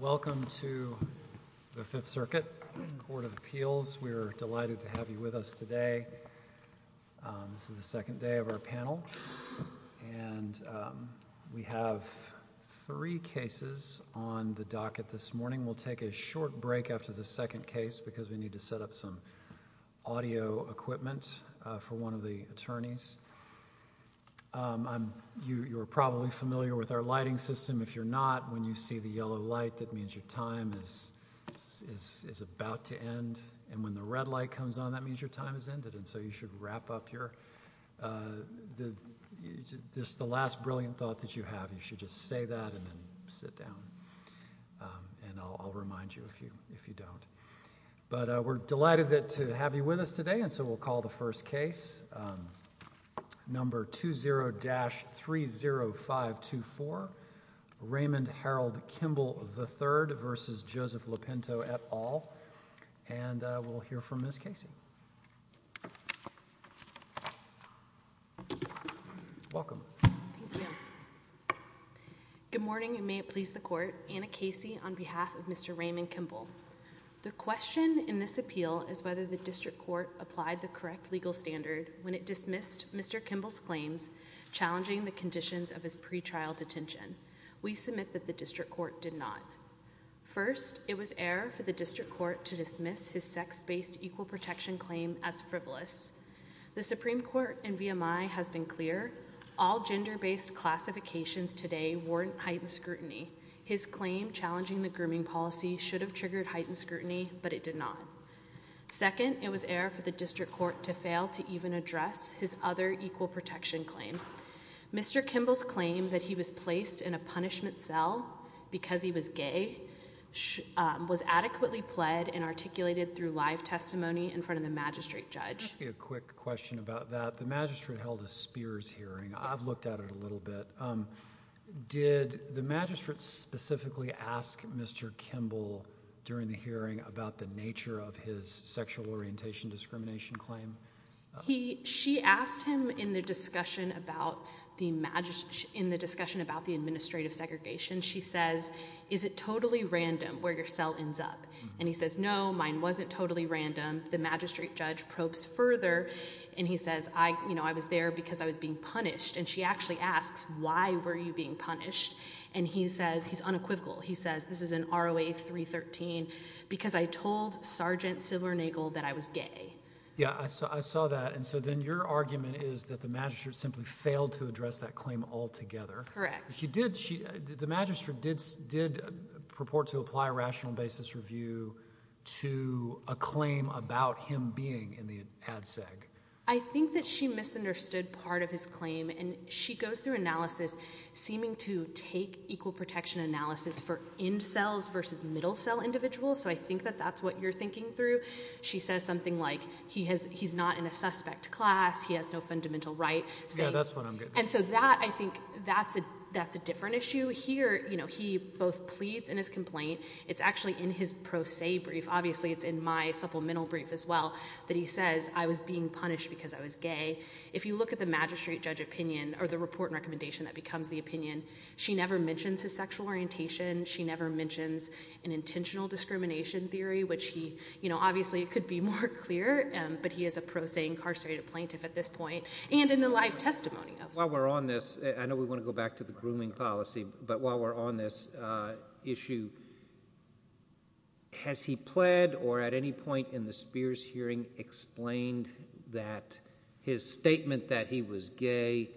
Welcome to the Fifth Circuit Court of Appeals. We're delighted to have you with us today. This is the second day of our panel and we have three cases on the docket this morning. We'll take a short break after the second case because we need to set up some audio equipment for one of the attorneys. You're probably familiar with our lighting system. If you're not, when you see the yellow light that means your time is about to end and when the red light comes on that means your time has ended. And so you should wrap up the last brilliant thought that you have. You should just say that and then sit down and I'll remind you if you don't. But we're delighted to have you with us today and so we'll call the first case number 20-30524 Raymond Harold Kimble v. Joseph Lopinto, et al. and we'll hear from Ms. Casey. Good morning and may it please the court. Anna Casey on behalf of Mr. Raymond Kimble. The question in this appeal is whether the district court applied the correct legal standard when it dismissed Mr. Kimble's claims challenging the conditions of his pretrial detention. We submit that the district court did not. First, it was error for the district court to dismiss his sex-based equal protection claim as frivolous. The Supreme Court and VMI has been clear. All gender-based classifications today warrant heightened scrutiny but it did not. Second, it was error for the district court to fail to even address his other equal protection claim. Mr. Kimble's claim that he was placed in a punishment cell because he was gay was adequately pled and articulated through live testimony in front of the magistrate judge. Quick question about that. The magistrate held a Spears hearing. I've looked at it a The magistrate specifically asked Mr. Kimble during the hearing about the nature of his sexual orientation discrimination claim. She asked him in the discussion about the administrative segregation. She says is it totally random where your cell ends up and he says no mine wasn't totally random. The magistrate judge probes further and he says I you know I was there because I was being punished and she actually asks why were you being punished and he says he's unequivocal he says this is an ROA 313 because I told Sergeant Silver Nagel that I was gay. Yeah I saw that and so then your argument is that the magistrate simply failed to address that claim altogether. Correct. She did she did the magistrate did did purport to apply a rational basis review to a claim about him being in the ADSEG. I think that she misunderstood part of his claim and she goes through analysis seeming to take equal protection analysis for end cells versus middle cell individuals so I think that that's what you're thinking through. She says something like he has he's not in a suspect class he has no fundamental right. Yeah that's what I'm getting at. And so that I think that's a that's a different issue here you know he both pleads in his complaint it's actually in his pro se brief obviously it's in my supplemental brief as well that he says I was being punished because I was gay. If you look at the magistrate judge opinion or the report and recommendation that becomes the opinion she never mentions his sexual orientation she never mentions an intentional discrimination theory which he you know obviously it could be more clear but he is a pro se incarcerated plaintiff at this point and in the live testimony. While we're on this I know we want to go back to the grooming policy but while we're on this issue has he pled or at any point in the Spears hearing explained that his statement that he was gay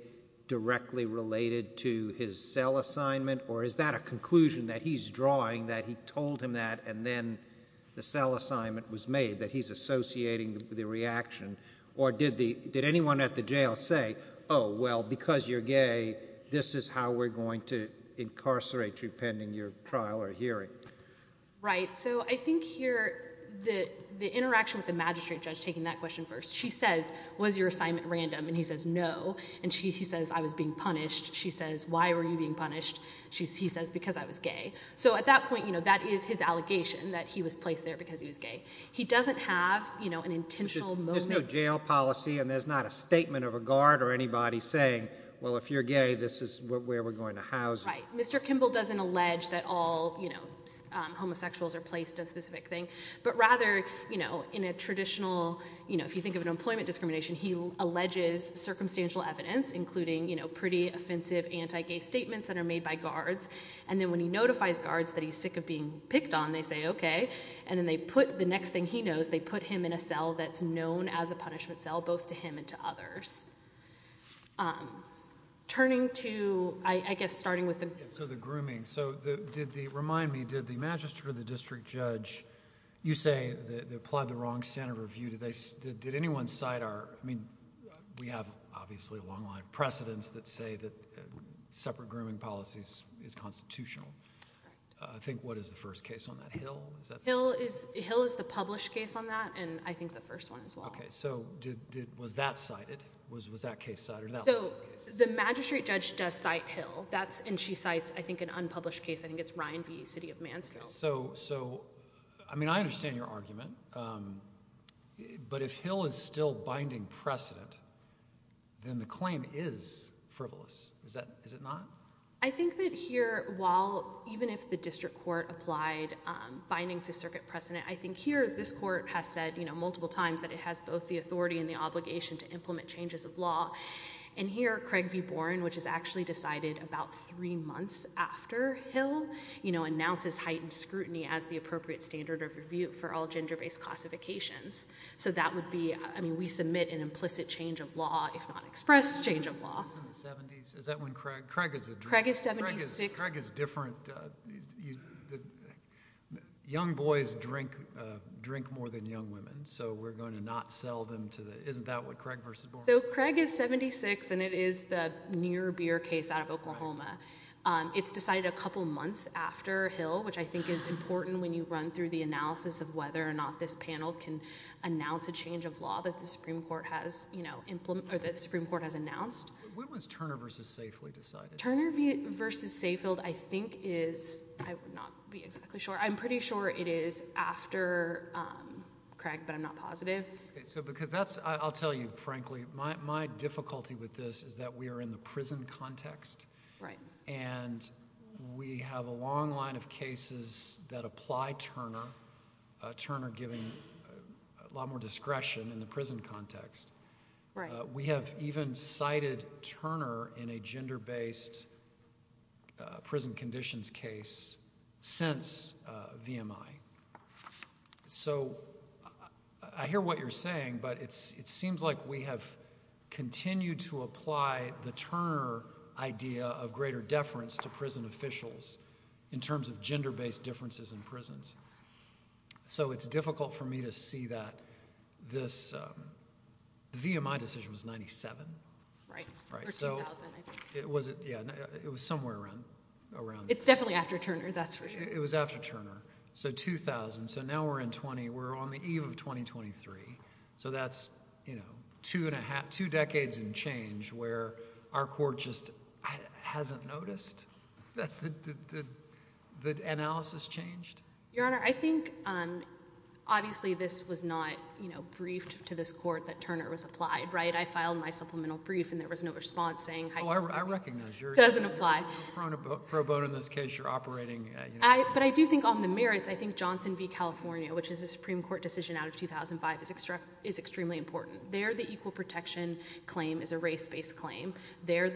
directly related to his cell assignment or is that a conclusion that he's drawing that he told him that and then the cell assignment was made that he's associating the reaction or did the did anyone at the jail say oh well because you're gay this is how we're going to incarcerate you pending your trial or hearing. Right so I think here the the interaction with the magistrate judge taking that question first she says was your assignment random and he says no and she says I was being punished she says why were you being punished she says because I was gay so at that point you know that is his allegation that he was placed there because he was gay he doesn't have you know an intentional moment. There's no jail policy and there's not a statement of a guard or anybody saying well if you're gay this is where we're going to house Mr. Kimball doesn't allege that all you know homosexuals are placed a specific thing but rather you know in a traditional you know if you think of an employment discrimination he alleges circumstantial evidence including you know pretty offensive anti-gay statements that are made by guards and then when he notifies guards that he's sick of being picked on they say okay and then they put the next thing he knows they put him in a cell that's known as a punishment cell both to him and to others. Turning to I guess starting with the. So the grooming so did the remind me did the Magistrate or the District Judge you say that they applied the wrong standard of view did they did anyone cite our I mean we have obviously a long line of precedents that say that separate grooming policies is constitutional. I think what is the first case on that Hill? Hill is Hill is the published case on that and I think the first one as well. Okay so did was that cited was was that case cited? So the yes and she cites I think an unpublished case I think it's Ryan v. City of Mansfield. So so I mean I understand your argument but if Hill is still binding precedent then the claim is frivolous is that is it not? I think that here while even if the district court applied binding for circuit precedent I think here this court has said you know multiple times that it has both the authority and the obligation to implement changes of law and here Craig v. Boren which is actually decided about three months after Hill you know announces heightened scrutiny as the appropriate standard of review for all gender-based classifications. So that would be I mean we submit an implicit change of law if not express change of law. Craig is Craig is different. Young boys drink drink more than young women so we're going to not sell them to Isn't that what Craig v. Boren? So Craig is 76 and it is the near beer case out of Oklahoma. It's decided a couple months after Hill which I think is important when you run through the analysis of whether or not this panel can announce a change of law that the Supreme Court has you know implement or that Supreme Court has announced. When was Turner v. Safefield decided? Turner v. Safefield I think is I would not be exactly sure I'm pretty sure it is after Craig but I'm not positive. So because that's I'll tell you frankly my difficulty with this is that we are in the prison context right and we have a long line of cases that apply Turner. Turner giving a lot more discretion in the prison context. We have even cited Turner in a gender-based prison conditions case since VMI. So I hear what you're saying but it's it seems like we have continued to apply the Turner idea of greater deference to prison officials in terms of gender-based differences in prisons. So it's difficult for me to see that this VMI decision was 97. Right. It was it yeah it was somewhere around. It's definitely after Turner that's for sure. It was after Turner so 2000 so now we're in 20 we're on the eve of 2023 so that's you know two and a half two decades and change where our court just hasn't noticed that the analysis changed. Your Honor I think obviously this was not you know briefed to this court that Turner was applied right I filed my supplemental brief and there was no response saying it doesn't apply. But I do think on the merits I think Johnson v. California which is a Supreme Court decision out of 2005 is extremely important. There the equal protection claim is a race-based claim. There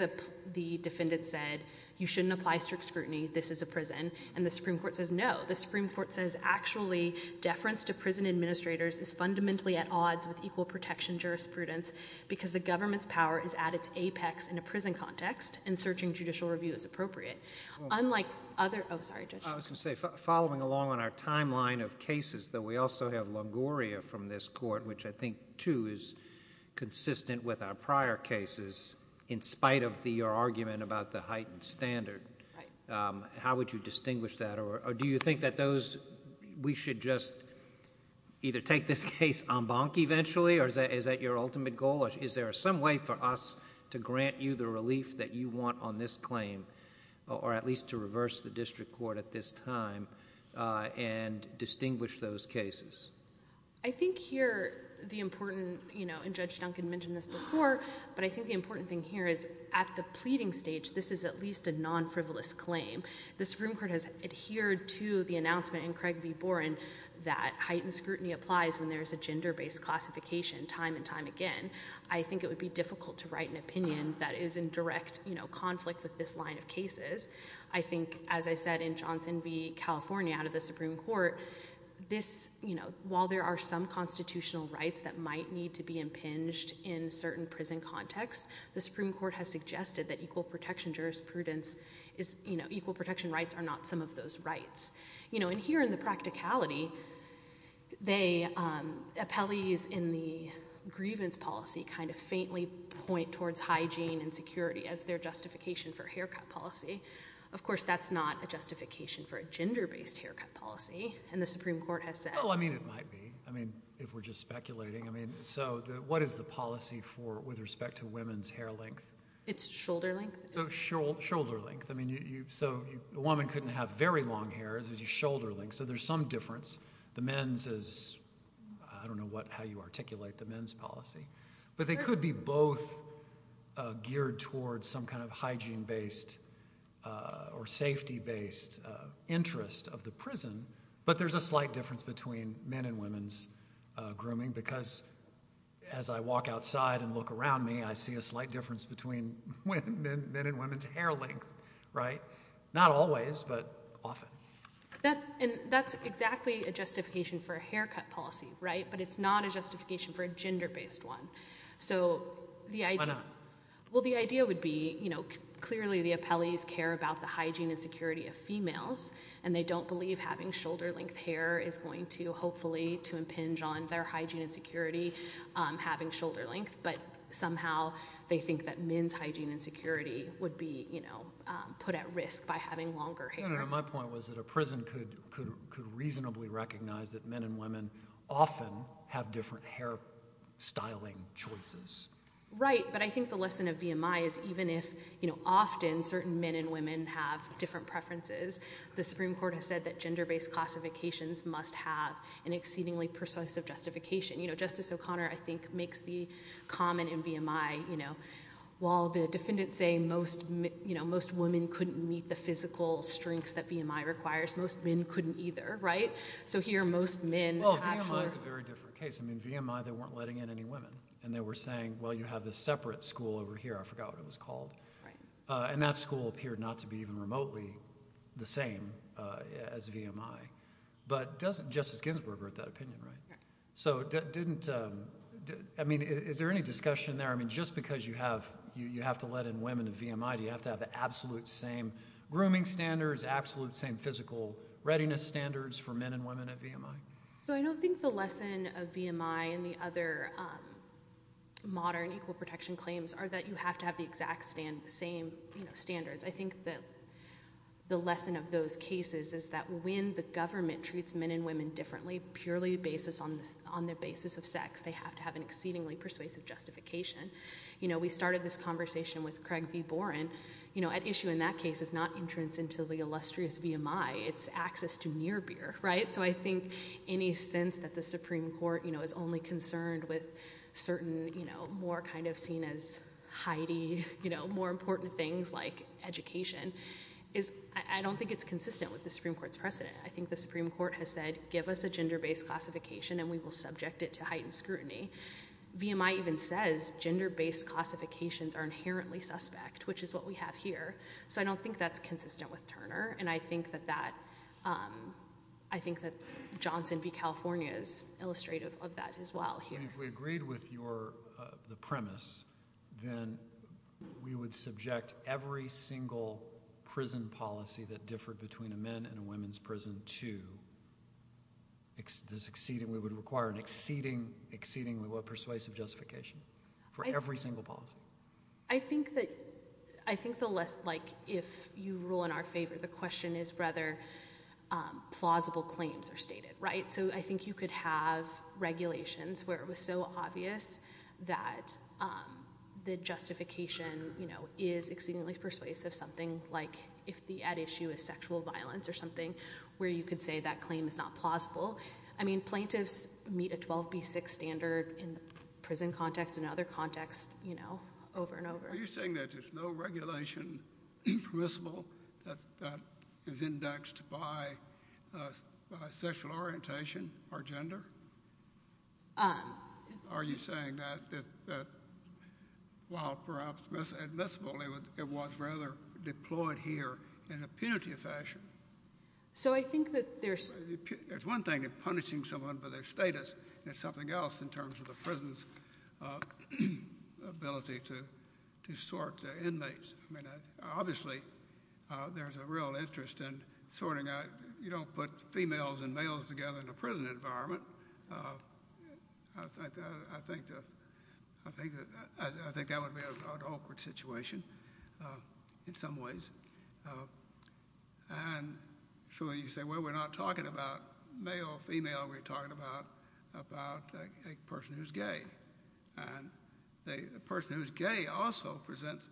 the defendant said you shouldn't apply strict scrutiny this is a prison and the Supreme Court says no. The Supreme Court says actually deference to prison administrators is fundamentally at odds with equal protection jurisprudence because the government's power is at its apex in a prison context and searching judicial review is appropriate. Unlike other oh sorry Judge. I was going to say following along on our timeline of cases that we also have Longoria from this court which I think too is consistent with our prior cases in spite of the argument about the heightened standard. How would you distinguish that or do you think that those we should just either take this case en banc eventually or is that your ultimate goal? Is there some way for us to grant you the relief that you want on this claim or at least to reverse the district court at this time and distinguish those cases? I think here the important you know and Judge Duncan mentioned this before but I think the important thing here is at the pleading stage this is at least a non-frivolous claim. The Supreme Court has adhered to the announcement in Craig v. Boren that heightened scrutiny applies when there's a gender-based classification time and time again. I think it would be difficult to write an opinion that is in direct you know conflict with this line of cases. I think as I said in Johnson v. California out of the Supreme Court this you know while there are some constitutional rights that might need to be impinged in certain prison contexts the Supreme Court has suggested that equal protection jurisprudence is you know equal protection rights are not some of those rights. You know and here in the practicality they, appellees in the grievance policy kind of faintly point towards hygiene and security as their justification for haircut policy. Of course that's not a justification for a gender-based haircut policy and the Supreme Court has said. Oh I mean it might be I mean if we're just speculating I mean so what is the policy for with respect to women's hair length? It's shoulder length. So shoulder very long hair is a shoulder length so there's some difference. The men's is I don't know what how you articulate the men's policy but they could be both geared towards some kind of hygiene based or safety based interest of the prison but there's a slight difference between men and women's grooming because as I walk outside and look around me I see a slight difference between men and women's hair length right. Not always but often. That and that's exactly a justification for a haircut policy right but it's not a justification for a gender-based one. So the idea well the idea would be you know clearly the appellees care about the hygiene and security of females and they don't believe having shoulder length hair is going to hopefully to impinge on their hygiene and security having shoulder length but somehow they think that men's hair will be you know put at risk by having longer hair. My point was that a prison could reasonably recognize that men and women often have different hair styling choices. Right but I think the lesson of VMI is even if you know often certain men and women have different preferences the Supreme Court has said that gender-based classifications must have an exceedingly persuasive justification. You know Justice O'Connor I think makes the common in VMI you know while the defendants say most you know most women couldn't meet the physical strengths that VMI requires most men couldn't either right. So here most men. Well VMI is a very different case. I mean VMI they weren't letting in any women and they were saying well you have this separate school over here I forgot what it was called and that school appeared not to be even remotely the same as VMI but doesn't Justice Ginsburg wrote that opinion right. So that didn't I mean is there any discussion there I mean just because you have you have to let in women in VMI do you have to have the absolute same grooming standards absolute same physical readiness standards for men and women at VMI. So I don't think the lesson of VMI and the other modern equal protection claims are that you have to have the exact same you know standards. I think that the lesson of those cases is that when the government treats men and women differently purely basis on this on the basis of sex they have to have an exceedingly persuasive justification. You know we started this conversation with Craig V. Boren you know at issue in that case is not entrance into the illustrious VMI it's access to near beer right. So I think any sense that the Supreme Court you know is only concerned with certain you know more kind of seen as Heidi you know more important things like education is I don't think it's consistent with the Supreme Court's precedent. I think the Supreme Court has said give us a gender-based classification and we will subject it to heightened scrutiny. VMI even says gender-based classifications are inherently suspect which is what we have here. So I don't think that's consistent with Turner and I think that that I think that Johnson v. California is illustrative of that as well here. If we agreed with your premise then we would subject every single prison policy that differed between a men and a women's prison to this exceedingly would require an exceedingly persuasive justification for every single policy. I think that I think the less like if you rule in our favor the question is rather plausible claims are stated right. So I think you could have regulations where it was so obvious that the justification you know is exceedingly persuasive something like if the at issue is sexual violence or something where you could say that claim is not plausible. I mean plaintiffs meet a 12b6 standard in prison context and other context you know over and over. Are you saying that there's no regulation permissible that is indexed by sexual orientation or gender? Are you saying that while perhaps admissible it was rather deployed here in a punitive fashion. So I think that there's one thing that punishing someone for their status and it's something else in terms of the prison's ability to to sort their inmates. I mean obviously there's a real interest in sorting out you don't put females and males together in a prison environment. I think that I think that I think that would be an awkward situation in some ways and so you say well we're not talking about male or female we're talking about about a person who's gay and a person who's gay also presents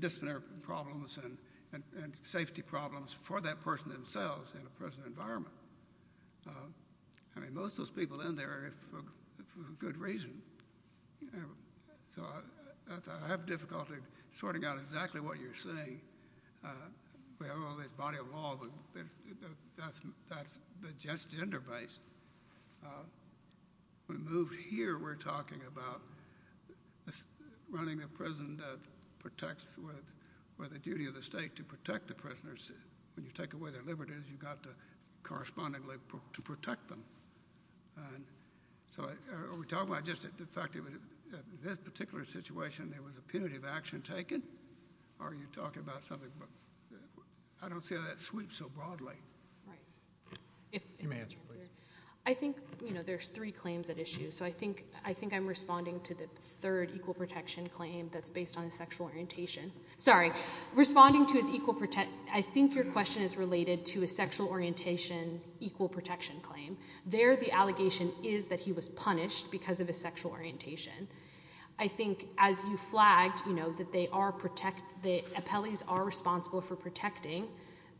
disciplinary problems and and safety problems for that person themselves in a prison environment. I mean most of those people in there for a good reason. So I have difficulty sorting out exactly what you're saying. We have all this body of law but that's that's the just gender base. We moved here we're talking about running a prison that protects with where the duty of the state to protect the prisoners when you take away their liberties you've got to correspond to protect them. So are we talking about just the fact that in this particular situation there was a punitive action taken or are you talking about something? I don't see how that sweeps so broadly. I think you know there's three claims at issue so I think I think I'm responding to the third equal protection claim that's based on sexual orientation. Sorry responding to his equal protect I think your question is related to a sexual orientation equal protection claim. There the allegation is that he was punished because of the sexual orientation. I think as you flagged you know that they are protect the appellees are responsible for protecting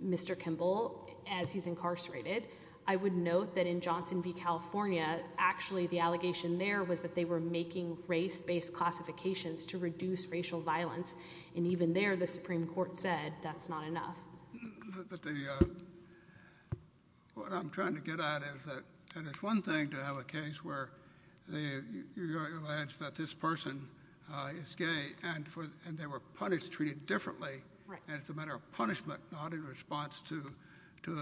Mr. Kimball as he's incarcerated. I would note that in Johnson v California actually the allegation there was that they were making race-based classifications to reduce racial violence and even there the Supreme Court said that's not enough. What I'm trying to get at is that and it's one thing to have a case where the alleged that this person is gay and for and they were punished treated differently and it's a matter of punishment not in response to to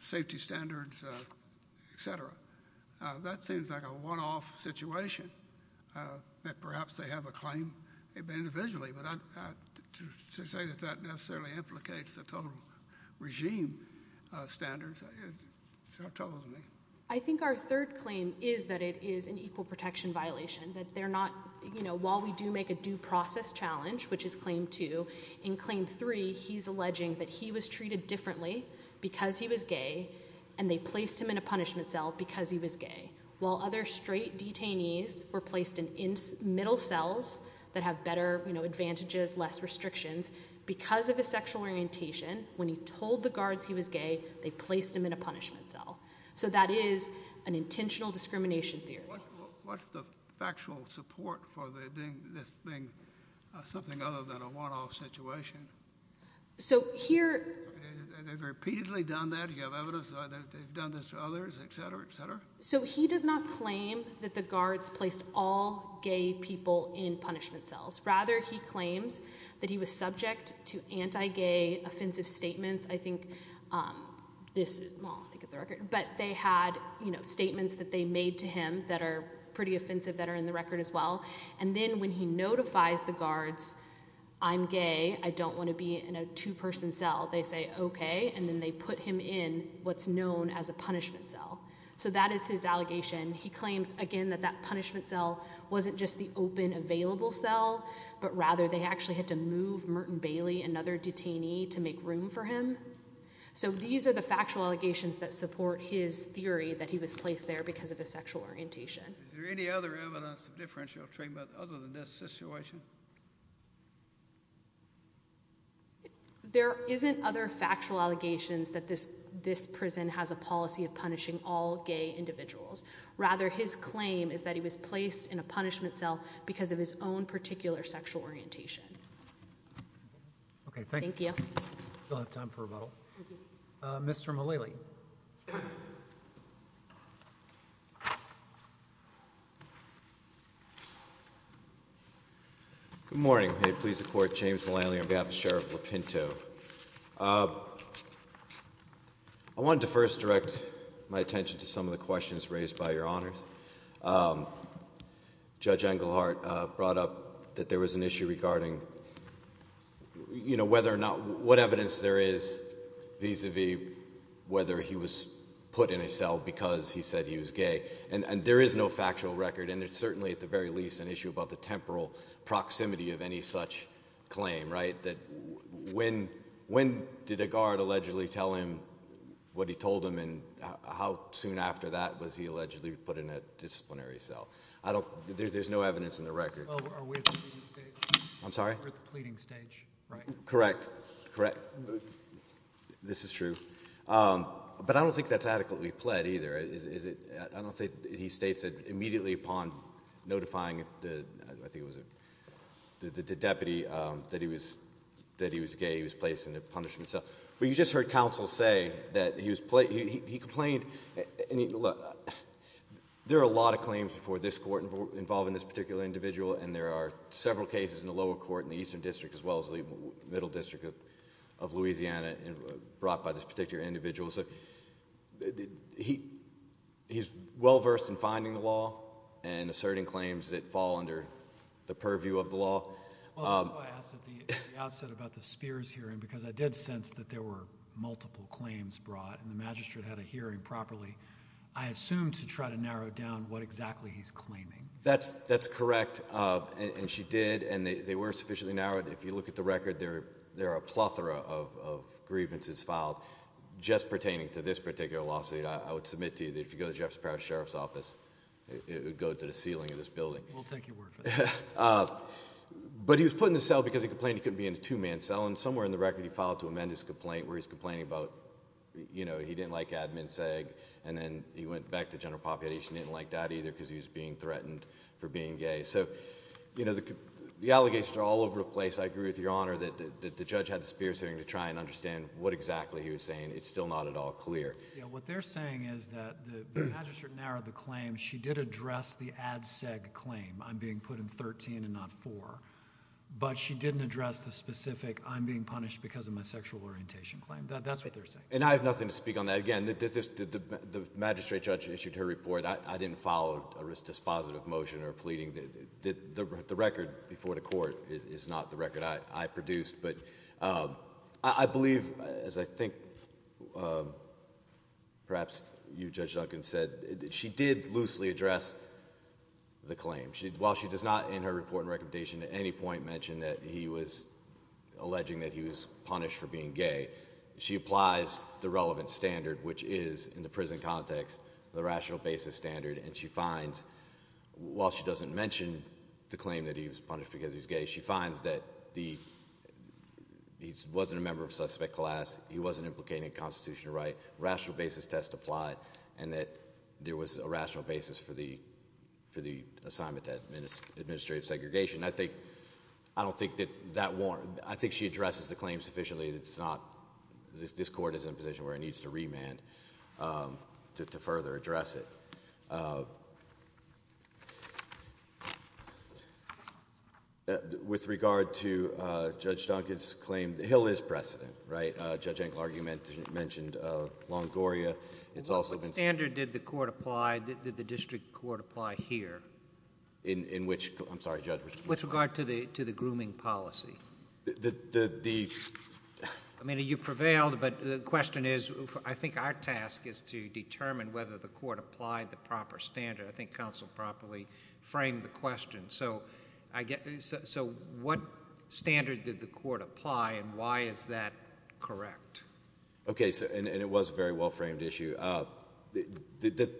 safety standards etc. That seems like a one-off situation that perhaps they have a claim individually but that necessarily implicates the total regime standards. I think our third claim is that it is an equal protection violation that they're not you know while we do make a due process challenge which is claim two in claim three he's alleging that he was treated differently because he was gay and they placed him in a punishment cell because he was gay while other straight detainees were placed in middle cells that have better you know advantages less restrictions because of the sexual orientation when he told the guards he was gay they placed him in a punishment cell so that is an intentional discrimination theory. What's the factual support for this being something other than a one-off situation? So here they've repeatedly done that? You have evidence that they've done this to others? So he does not claim that the guards placed all gay people in punishment cells. Rather he claims that he was subject to anti-gay offensive statements I think but they had you know statements that they made to him that are pretty offensive that are in the record as well and then when he notifies the guards I'm gay I don't want to be in a two-person cell they say okay and then they put him in what's known as a punishment cell so that is his allegation he claims again that that punishment cell wasn't just the open available cell but rather they actually had to move Merton Bailey another detainee to make room for him so these are the factual allegations that support his theory that he was placed there because of a sexual orientation. Is there any other evidence of differential treatment other than this situation? There isn't other factual allegations that this this prison has a policy of punishing all gay individuals rather his claim is that he was placed in a punishment cell because of his own particular sexual orientation. Okay thank you. We still have time for a vote. Mr. Mullaley. Good morning. May it please the court James Mullaley on behalf of Sheriff Lupinto. I wanted to first direct my attention to some of the questions raised by your honors. Judge Englehart brought up that there was an issue regarding you know whether or not what evidence there is vis-a-vis whether he was put in a cell because he said he was gay and and there is no factual record and it's certainly at the very least an issue about the temporal proximity of any such claim right that when when did a guard allegedly tell him what he told him and how soon after that was he allegedly put in a disciplinary cell. I don't there's no evidence in the record. I'm sorry pleading stage right correct correct this is true but I don't think that's adequately pled either is it I don't think he states that immediately upon notifying the I think it was a the deputy that he was that he was gay he was placed in a punishment cell but you just heard counsel say that he was played he complained and look there are a lot of claims before this court involved in this particular individual and there are several cases in the lower court in the Eastern District as well as the Middle District of Louisiana and brought by this particular individual so he he's well versed in finding the law and asserting claims that fall under the purview of the law. I asked at the outset about the Spears hearing because I did sense that there were multiple claims brought and the magistrate had a hearing properly I assume to try to narrow down what exactly he's claiming that's that's correct and she did and they were sufficiently narrowed if you look at the record there there are a plethora of grievances filed just pertaining to this particular lawsuit I would submit to you that if you go to Jeff's parish sheriff's office it would go to the ceiling of this building but he was put in the cell because he complained he couldn't be in a two-man cell and somewhere in the record he filed to amend his complaint where he's complaining about you know he went back to general population didn't like that either because he was being threatened for being gay so you know the allegations are all over the place I agree with your honor that the judge had the Spears hearing to try and understand what exactly he was saying it's still not at all clear what they're saying is that the magistrate narrowed the claim she did address the ad seg claim I'm being put in 13 and not four but she didn't address the specific I'm being punished because of my sexual orientation claim that's what they're nothing to speak on that again that this is the magistrate judge issued her report I didn't follow a risk dispositive motion or pleading did the record before the court is not the record I produced but I believe as I think perhaps you judge Duncan said she did loosely address the claim she'd while she does not in her report and recommendation at any point mentioned that he was alleging that he was punished for being gay she applies the relevant standard which is in the prison context the rational basis standard and she finds while she doesn't mention the claim that he was punished because he's gay she finds that the he wasn't a member of suspect class he wasn't implicating a constitutional right rational basis test applied and that there was a rational basis for the for the assignment at minutes administrative segregation I think I don't think that that war I think she addresses the claims officially it's not this court is in a position where it needs to remand to further address it with regard to judge Duncan's claim the hill is precedent right judge angle argument mentioned Longoria it's also been standard did the court applied did the district court apply here in in which with regard to the to the grooming policy the I mean you prevailed but the question is I think our task is to determine whether the court applied the proper standard I think counsel properly frame the question so I get so what standard did the court apply and why is that correct okay so and it was very well framed issue up the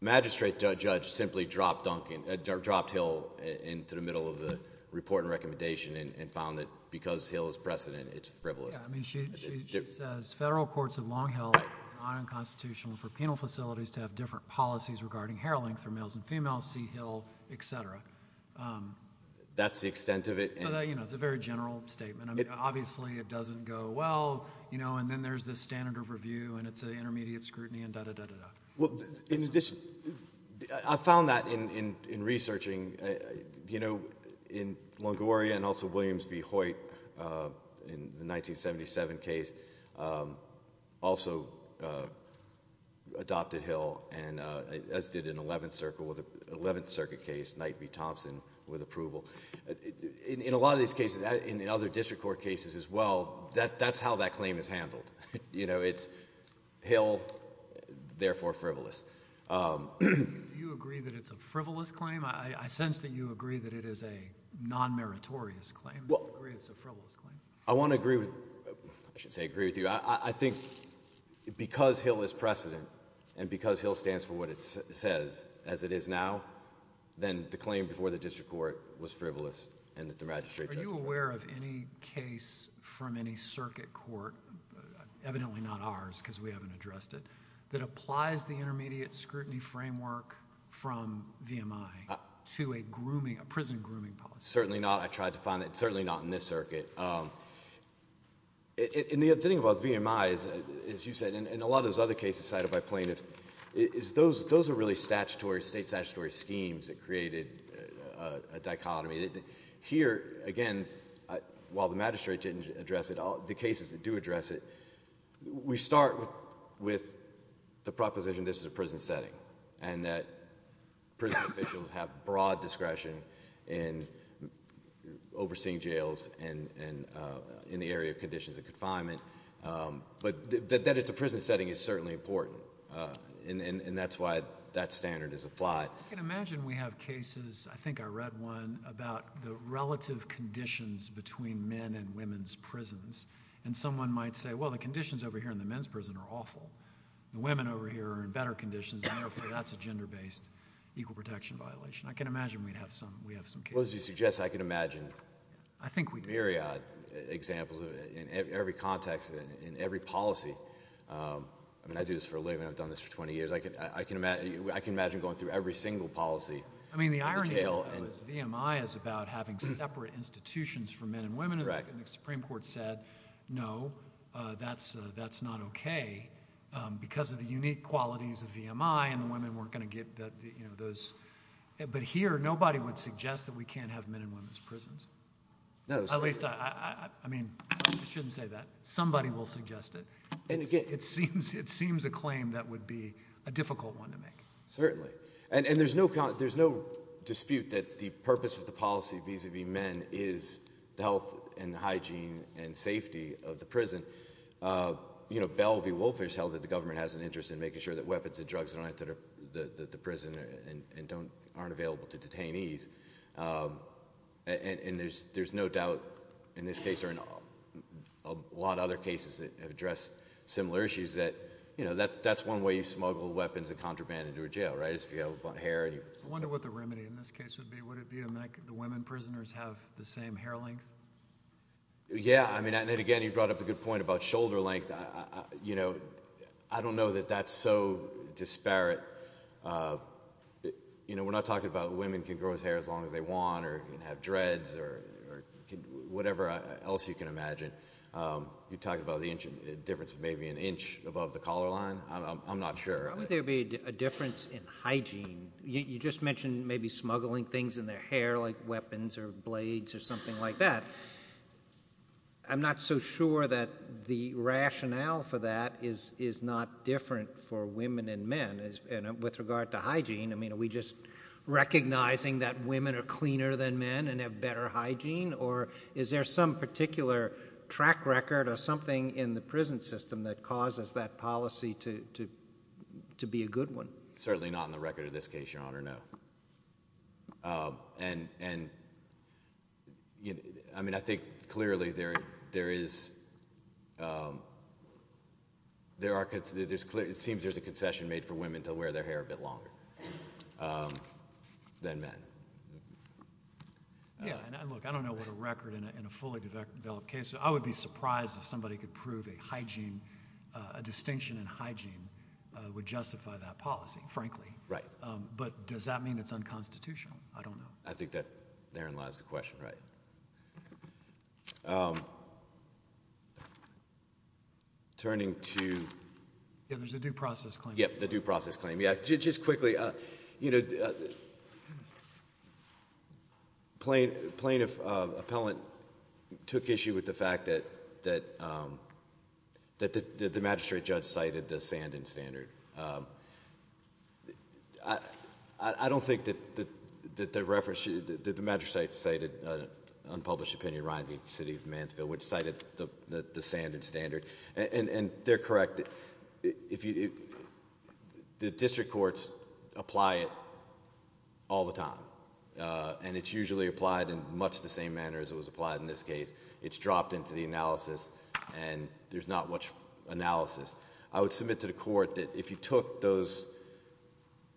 magistrate judge simply dropped Duncan dropped Hill into the middle of the report and recommendation and found that because Hill is precedent it's frivolous I mean she says federal courts of Long Hill unconstitutional for penal facilities to have different policies regarding hair length for males and females see Hill etc that's the extent of it you know it's a very general statement obviously it doesn't go well you know and then there's the standard of review and it's a in in researching you know in Longoria and also Williams v Hoyt in the 1977 case also adopted Hill and as did an 11th circle with a 11th circuit case night be Thompson with approval in a lot of these cases in the other district court cases as well that that's how that claim is handled you know it's Hill therefore frivolous you agree that it's a frivolous claim I sense that you agree that it is a non meritorious claim well it's a frivolous claim I want to agree with I should say agree with you I think because Hill is precedent and because Hill stands for what it says as it is now then the claim before the district court was frivolous and that the magistrate are you aware of any case from any circuit court evidently not ours because we haven't addressed it that applies the intermediate scrutiny framework from VMI to a grooming a prison grooming policy certainly not I tried to find it certainly not in this circuit in the other thing about VMI is as you said in a lot of other cases cited by plaintiffs is those those are really statutory state statutory schemes that created a dichotomy here again while the magistrate didn't address it all the cases that do address it we start with the proposition this is a prison setting and that prison officials have broad discretion in overseeing jails and and in the area of conditions of confinement but that it's a prison setting is certainly important and and that's why that standard is applied I have cases I think I read one about the relative conditions between men and women's prisons and someone might say well the conditions over here in the men's prison are awful the women over here are in better conditions and therefore that's a gender-based equal protection violation I can imagine we'd have some we have some people as you suggest I can imagine I think we'd Marriott examples in every context in every policy I mean I do this for a living I've done this for 20 years I can I can imagine I can imagine going through every single policy I mean the irony is VMI is about having separate institutions for men and women in the Supreme Court said no that's that's not okay because of the unique qualities of VMI and the women weren't going to get that you know those but here nobody would suggest that we can't have men and women's prisons no at least I I mean I shouldn't say that somebody will suggest it and again it seems it seems a claim that would be a difficult one to make certainly and and there's no count there's no dispute that the purpose of the policy vis-a-vis men is the health and hygiene and safety of the prison you know Belle v. Wolfish held that the government has an interest in making sure that weapons and drugs are not that are the prison and don't aren't available to detainees and there's there's no doubt in this case or in a lot of other cases that have addressed similar issues that you know that that's one way you smuggle weapons and contraband into a jail right if you have hair and you wonder what the remedy in this case would be would it be a make the women prisoners have the same hair length yeah I mean and then again you brought up a good point about shoulder length you know I don't know that that's so disparate you know we're not talking about women can grow his hair as long as they want or have dreads or whatever else you can imagine you talk about the difference of maybe an inch above the collar line I'm not sure I would there be a difference in hygiene you just mentioned maybe smuggling things in their hair like weapons or blades or something like that I'm not so sure that the rationale for that is is not different for women and men and with regard to hygiene I mean are we just recognizing that women are cleaner than men and have better hygiene or is there some particular track record or in the prison system that causes that policy to to be a good one certainly not in the record of this case your honor no and and you know I mean I think clearly there there is there are kids there's clear it seems there's a concession made for women to wear their hair a bit longer than men yeah I don't know what a record in a fully developed case I would be surprised if somebody could prove a hygiene a distinction in hygiene would justify that policy frankly right but does that mean it's unconstitutional I don't know I think that therein lies the question right turning to there's a due process claim yep the due process claim yeah just quickly you know plain plaintiff appellant took issue with the fact that that that the magistrate judge cited the sand and standard I I don't think that that the reference that the magistrate cited unpublished opinion riding city of Mansfield which cited the the sand and standard and and they're correct if you the district courts apply it all the time and it's usually applied in much the same manner as it was applied in this case it's dropped into the analysis and there's not much analysis I would submit to the court that if you took those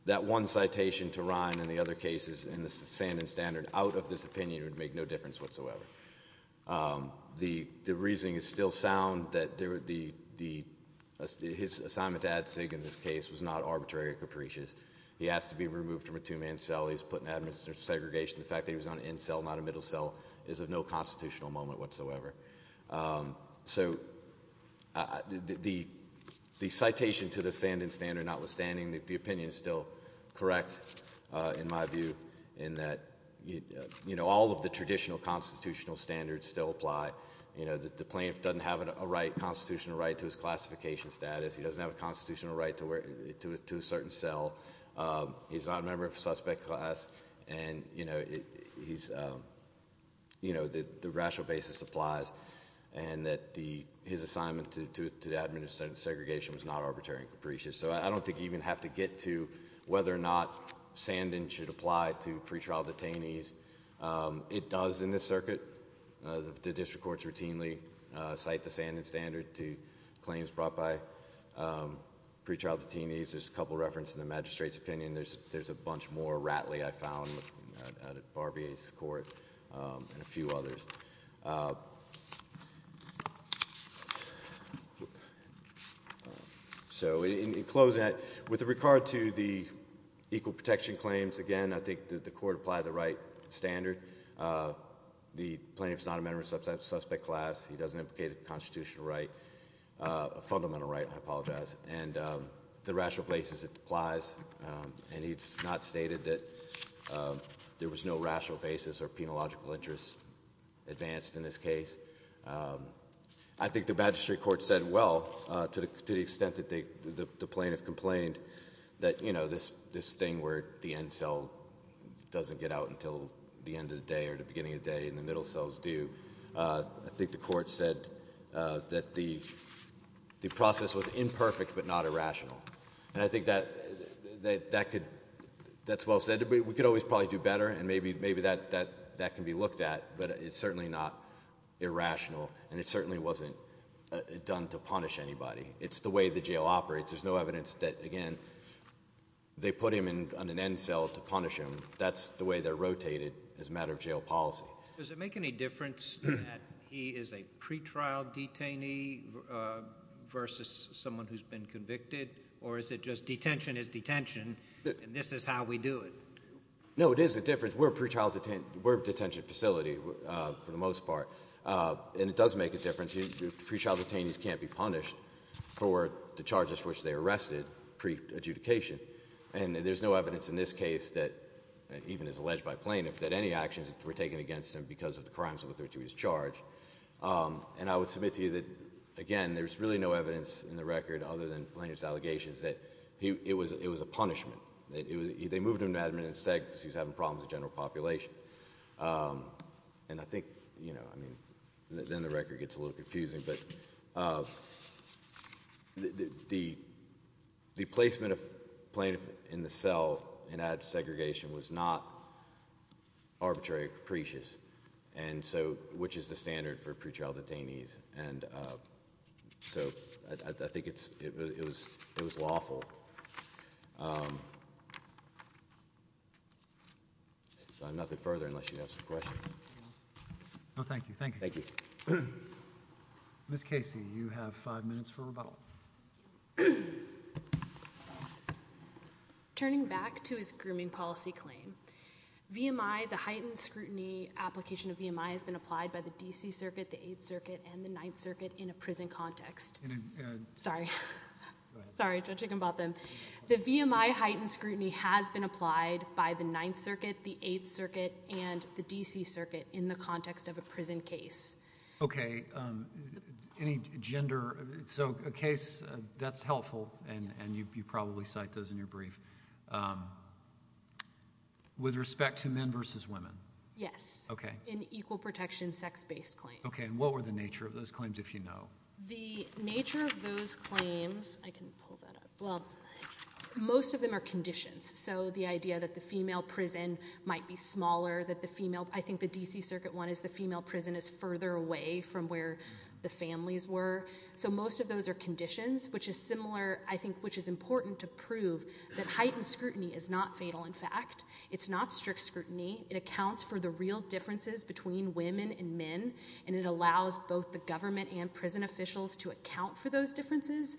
that one citation to rhyme in the other cases in the sand and standard out of this opinion would make no difference whatsoever the the reasoning is still sound that there would be the his assignment ad sig in this case was not arbitrary or capricious he has to be removed from a two-man cell he's putting administer segregation the fact that he was on in cell not a middle cell is of no constitutional moment whatsoever so the the citation to the sand and standard notwithstanding that the opinion is still correct in my view in that you know all of the traditional constitutional standards still apply you know that the plaintiff doesn't have a right constitutional right to his classification status he doesn't have a member of suspect class and you know he's you know that the rational basis applies and that the his assignment to the administrative segregation was not arbitrary and capricious so I don't think you even have to get to whether or not sand and should apply to pretrial detainees it does in this circuit the district courts routinely cite the sand and standard to claims brought by pretrial detainees there's a couple reference in the magistrates opinion there's there's a bunch more rattly I found at barbies court and a few others so in close that with regard to the equal protection claims again I think that the court apply the right standard the plaintiff's not a member of substance suspect class he doesn't implicate a constitutional right a rational basis it applies and he's not stated that there was no rational basis or penological interest advanced in this case I think the magistrate court said well to the extent that they the plaintiff complained that you know this this thing where the end cell doesn't get out until the end of the day or the beginning of day in the middle cells do I think the court said that the the process was imperfect but not a rational and I think that that could that's well said to be we could always probably do better and maybe maybe that that that can be looked at but it's certainly not irrational and it certainly wasn't done to punish anybody it's the way the jail operates there's no evidence that again they put him in an end cell to punish him that's the way they're rotated as a matter of jail policy does it make any difference he is a pretrial detainee versus someone who's been convicted or is it just detention is detention and this is how we do it no it is a difference we're pretrial detained we're detention facility for the most part and it does make a difference you pre-trial detainees can't be punished for the charges which they arrested pre adjudication and there's no evidence in this case that even is alleged by plaintiff that any actions were taken against him because of the crimes with which he was charged and I would submit to you that again there's really no evidence in the record other than plaintiff's allegations that he it was it was a punishment they moved him to admin instead because he's having problems a general population and I think you know I mean then the record gets a little confusing but the the placement of plaintiff in the cell and at segregation was not arbitrary capricious and so which is the standard for pre-trial detainees and so I think it's it was it was lawful so I'm nothing further unless you have some questions no thank you thank you thank you miss Casey you have five minutes for application of EMI has been applied by the DC Circuit the 8th Circuit and the 9th Circuit in a prison context sorry sorry judging about them the VMI heightened scrutiny has been applied by the 9th Circuit the 8th Circuit and the DC Circuit in the context of a prison case okay any gender so a case that's helpful and and you probably cite those in your brief with respect to men versus women yes okay in equal protection sex-based claim okay and what were the nature of those claims if you know the nature of those claims I can pull that up well most of them are conditions so the idea that the female prison might be smaller that the female I think the DC Circuit one is the female prison is further away from where the families were so most of those are conditions which is similar I think which is important to prove that heightened scrutiny it accounts for the real differences between women and men and it allows both the government and prison officials to account for those differences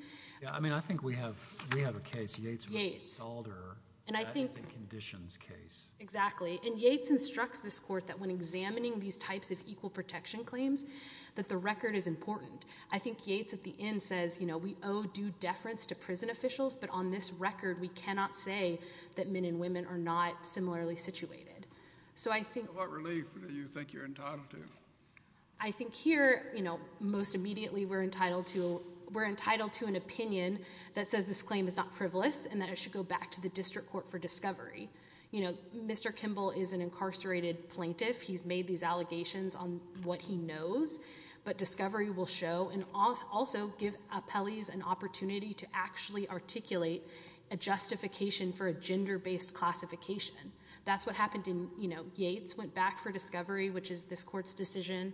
I mean I think we have we have a case Yates Alder and I think conditions case exactly and Yates instructs this court that when examining these types of equal protection claims that the record is important I think Yates at the end says you know we owe due deference to prison officials but on this record we cannot say that men and women are not similarly situated so I think what relief do you think you're entitled to I think here you know most immediately we're entitled to we're entitled to an opinion that says this claim is not frivolous and that it should go back to the district court for discovery you know mr. Kimball is an incarcerated plaintiff he's made these allegations on what he knows but discovery will show and also give appellees an opportunity to actually articulate a justification for a gender based classification that's what happened in you know Yates went back for discovery which is this court's decision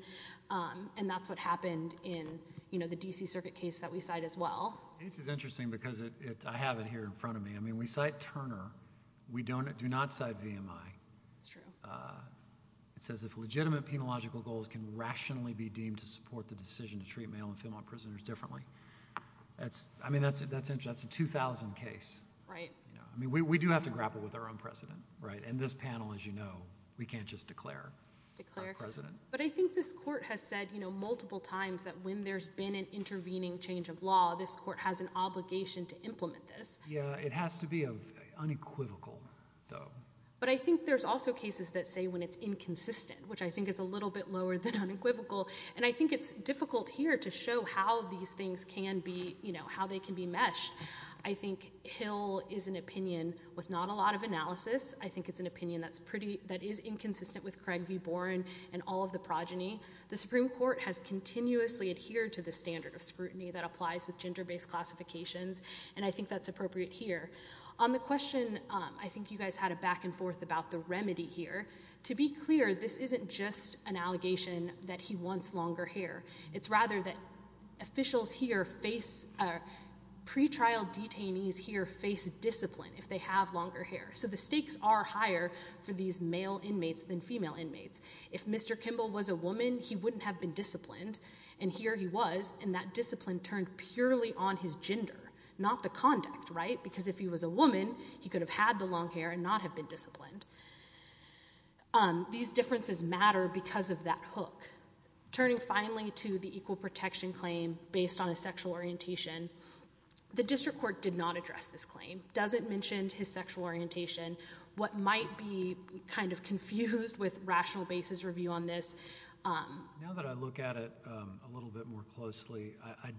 and that's what happened in you know the DC Circuit case that we side as well this is interesting because it I have it here in front of me I mean we cite Turner we don't do not side VMI it says if legitimate penological goals can rationally be deemed to support the decision to treat male and female prisoners differently that's I mean that's it that's interesting two thousand case right I mean we do have to grapple with our own precedent right and this panel as you know we can't just declare but I think this court has said you know multiple times that when there's been an intervening change of law this court has an obligation to implement this yeah it has to be unequivocal though but I think there's also cases that say when it's inconsistent which I think is a little bit lower than unequivocal and I think it's difficult here to show how these I think Hill is an opinion with not a lot of analysis I think it's an opinion that's pretty that is inconsistent with Craig v. Boren and all of the progeny the Supreme Court has continuously adhered to the standard of scrutiny that applies with gender-based classifications and I think that's appropriate here on the question I think you guys had a back-and-forth about the remedy here to be clear this isn't just an allegation that he wants longer hair it's rather that officials here face pre-trial detainees here face discipline if they have longer hair so the stakes are higher for these male inmates than female inmates if mr. Kimball was a woman he wouldn't have been disciplined and here he was and that discipline turned purely on his gender not the conduct right because if he was a woman he could have had the long hair and not have been disciplined these differences matter because of that turning finally to the equal protection claim based on a sexual orientation the district court did not address this claim doesn't mentioned his sexual orientation what might be kind of confused with rational basis review on this I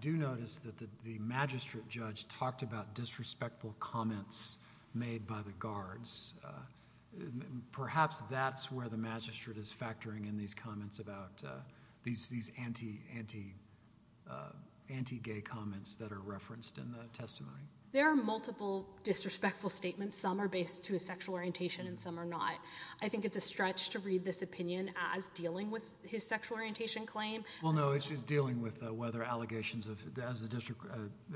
do notice that the magistrate judge talked about disrespectful comments made by the guards perhaps that's where the magistrate is factoring in these comments about these these anti-anti anti-gay comments that are referenced in the testimony there are multiple disrespectful statements some are based to a sexual orientation and some are not I think it's a stretch to read this opinion as dealing with his sexual orientation claim well no it's just dealing with whether allegations of as a district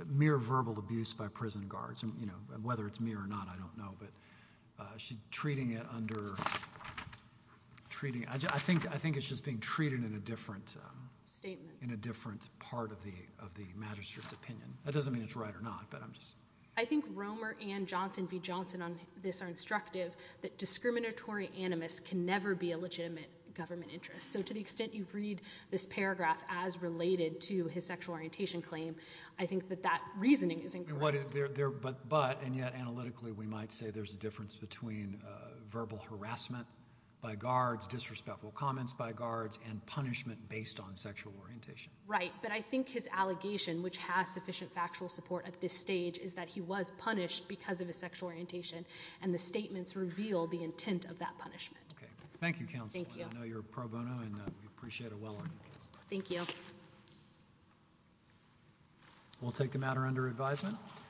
mere verbal abuse by prison guards and you know whether it's me or not I don't know but she's under treating I think I think it's just being treated in a different statement in a different part of the of the magistrate's opinion that doesn't mean it's right or not but I'm just I think Romer and Johnson v. Johnson on this are instructive that discriminatory animus can never be a legitimate government interest so to the extent you read this paragraph as related to his sexual orientation claim I think that that reasoning isn't what is there but but and yet analytically we might say there's a difference between verbal harassment by guards disrespectful comments by guards and punishment based on sexual orientation right but I think his allegation which has sufficient factual support at this stage is that he was punished because of his sexual orientation and the statements revealed the intent of that punishment okay thank you counsel I know you're pro bono and appreciate it well thank you we'll take them out or under advisement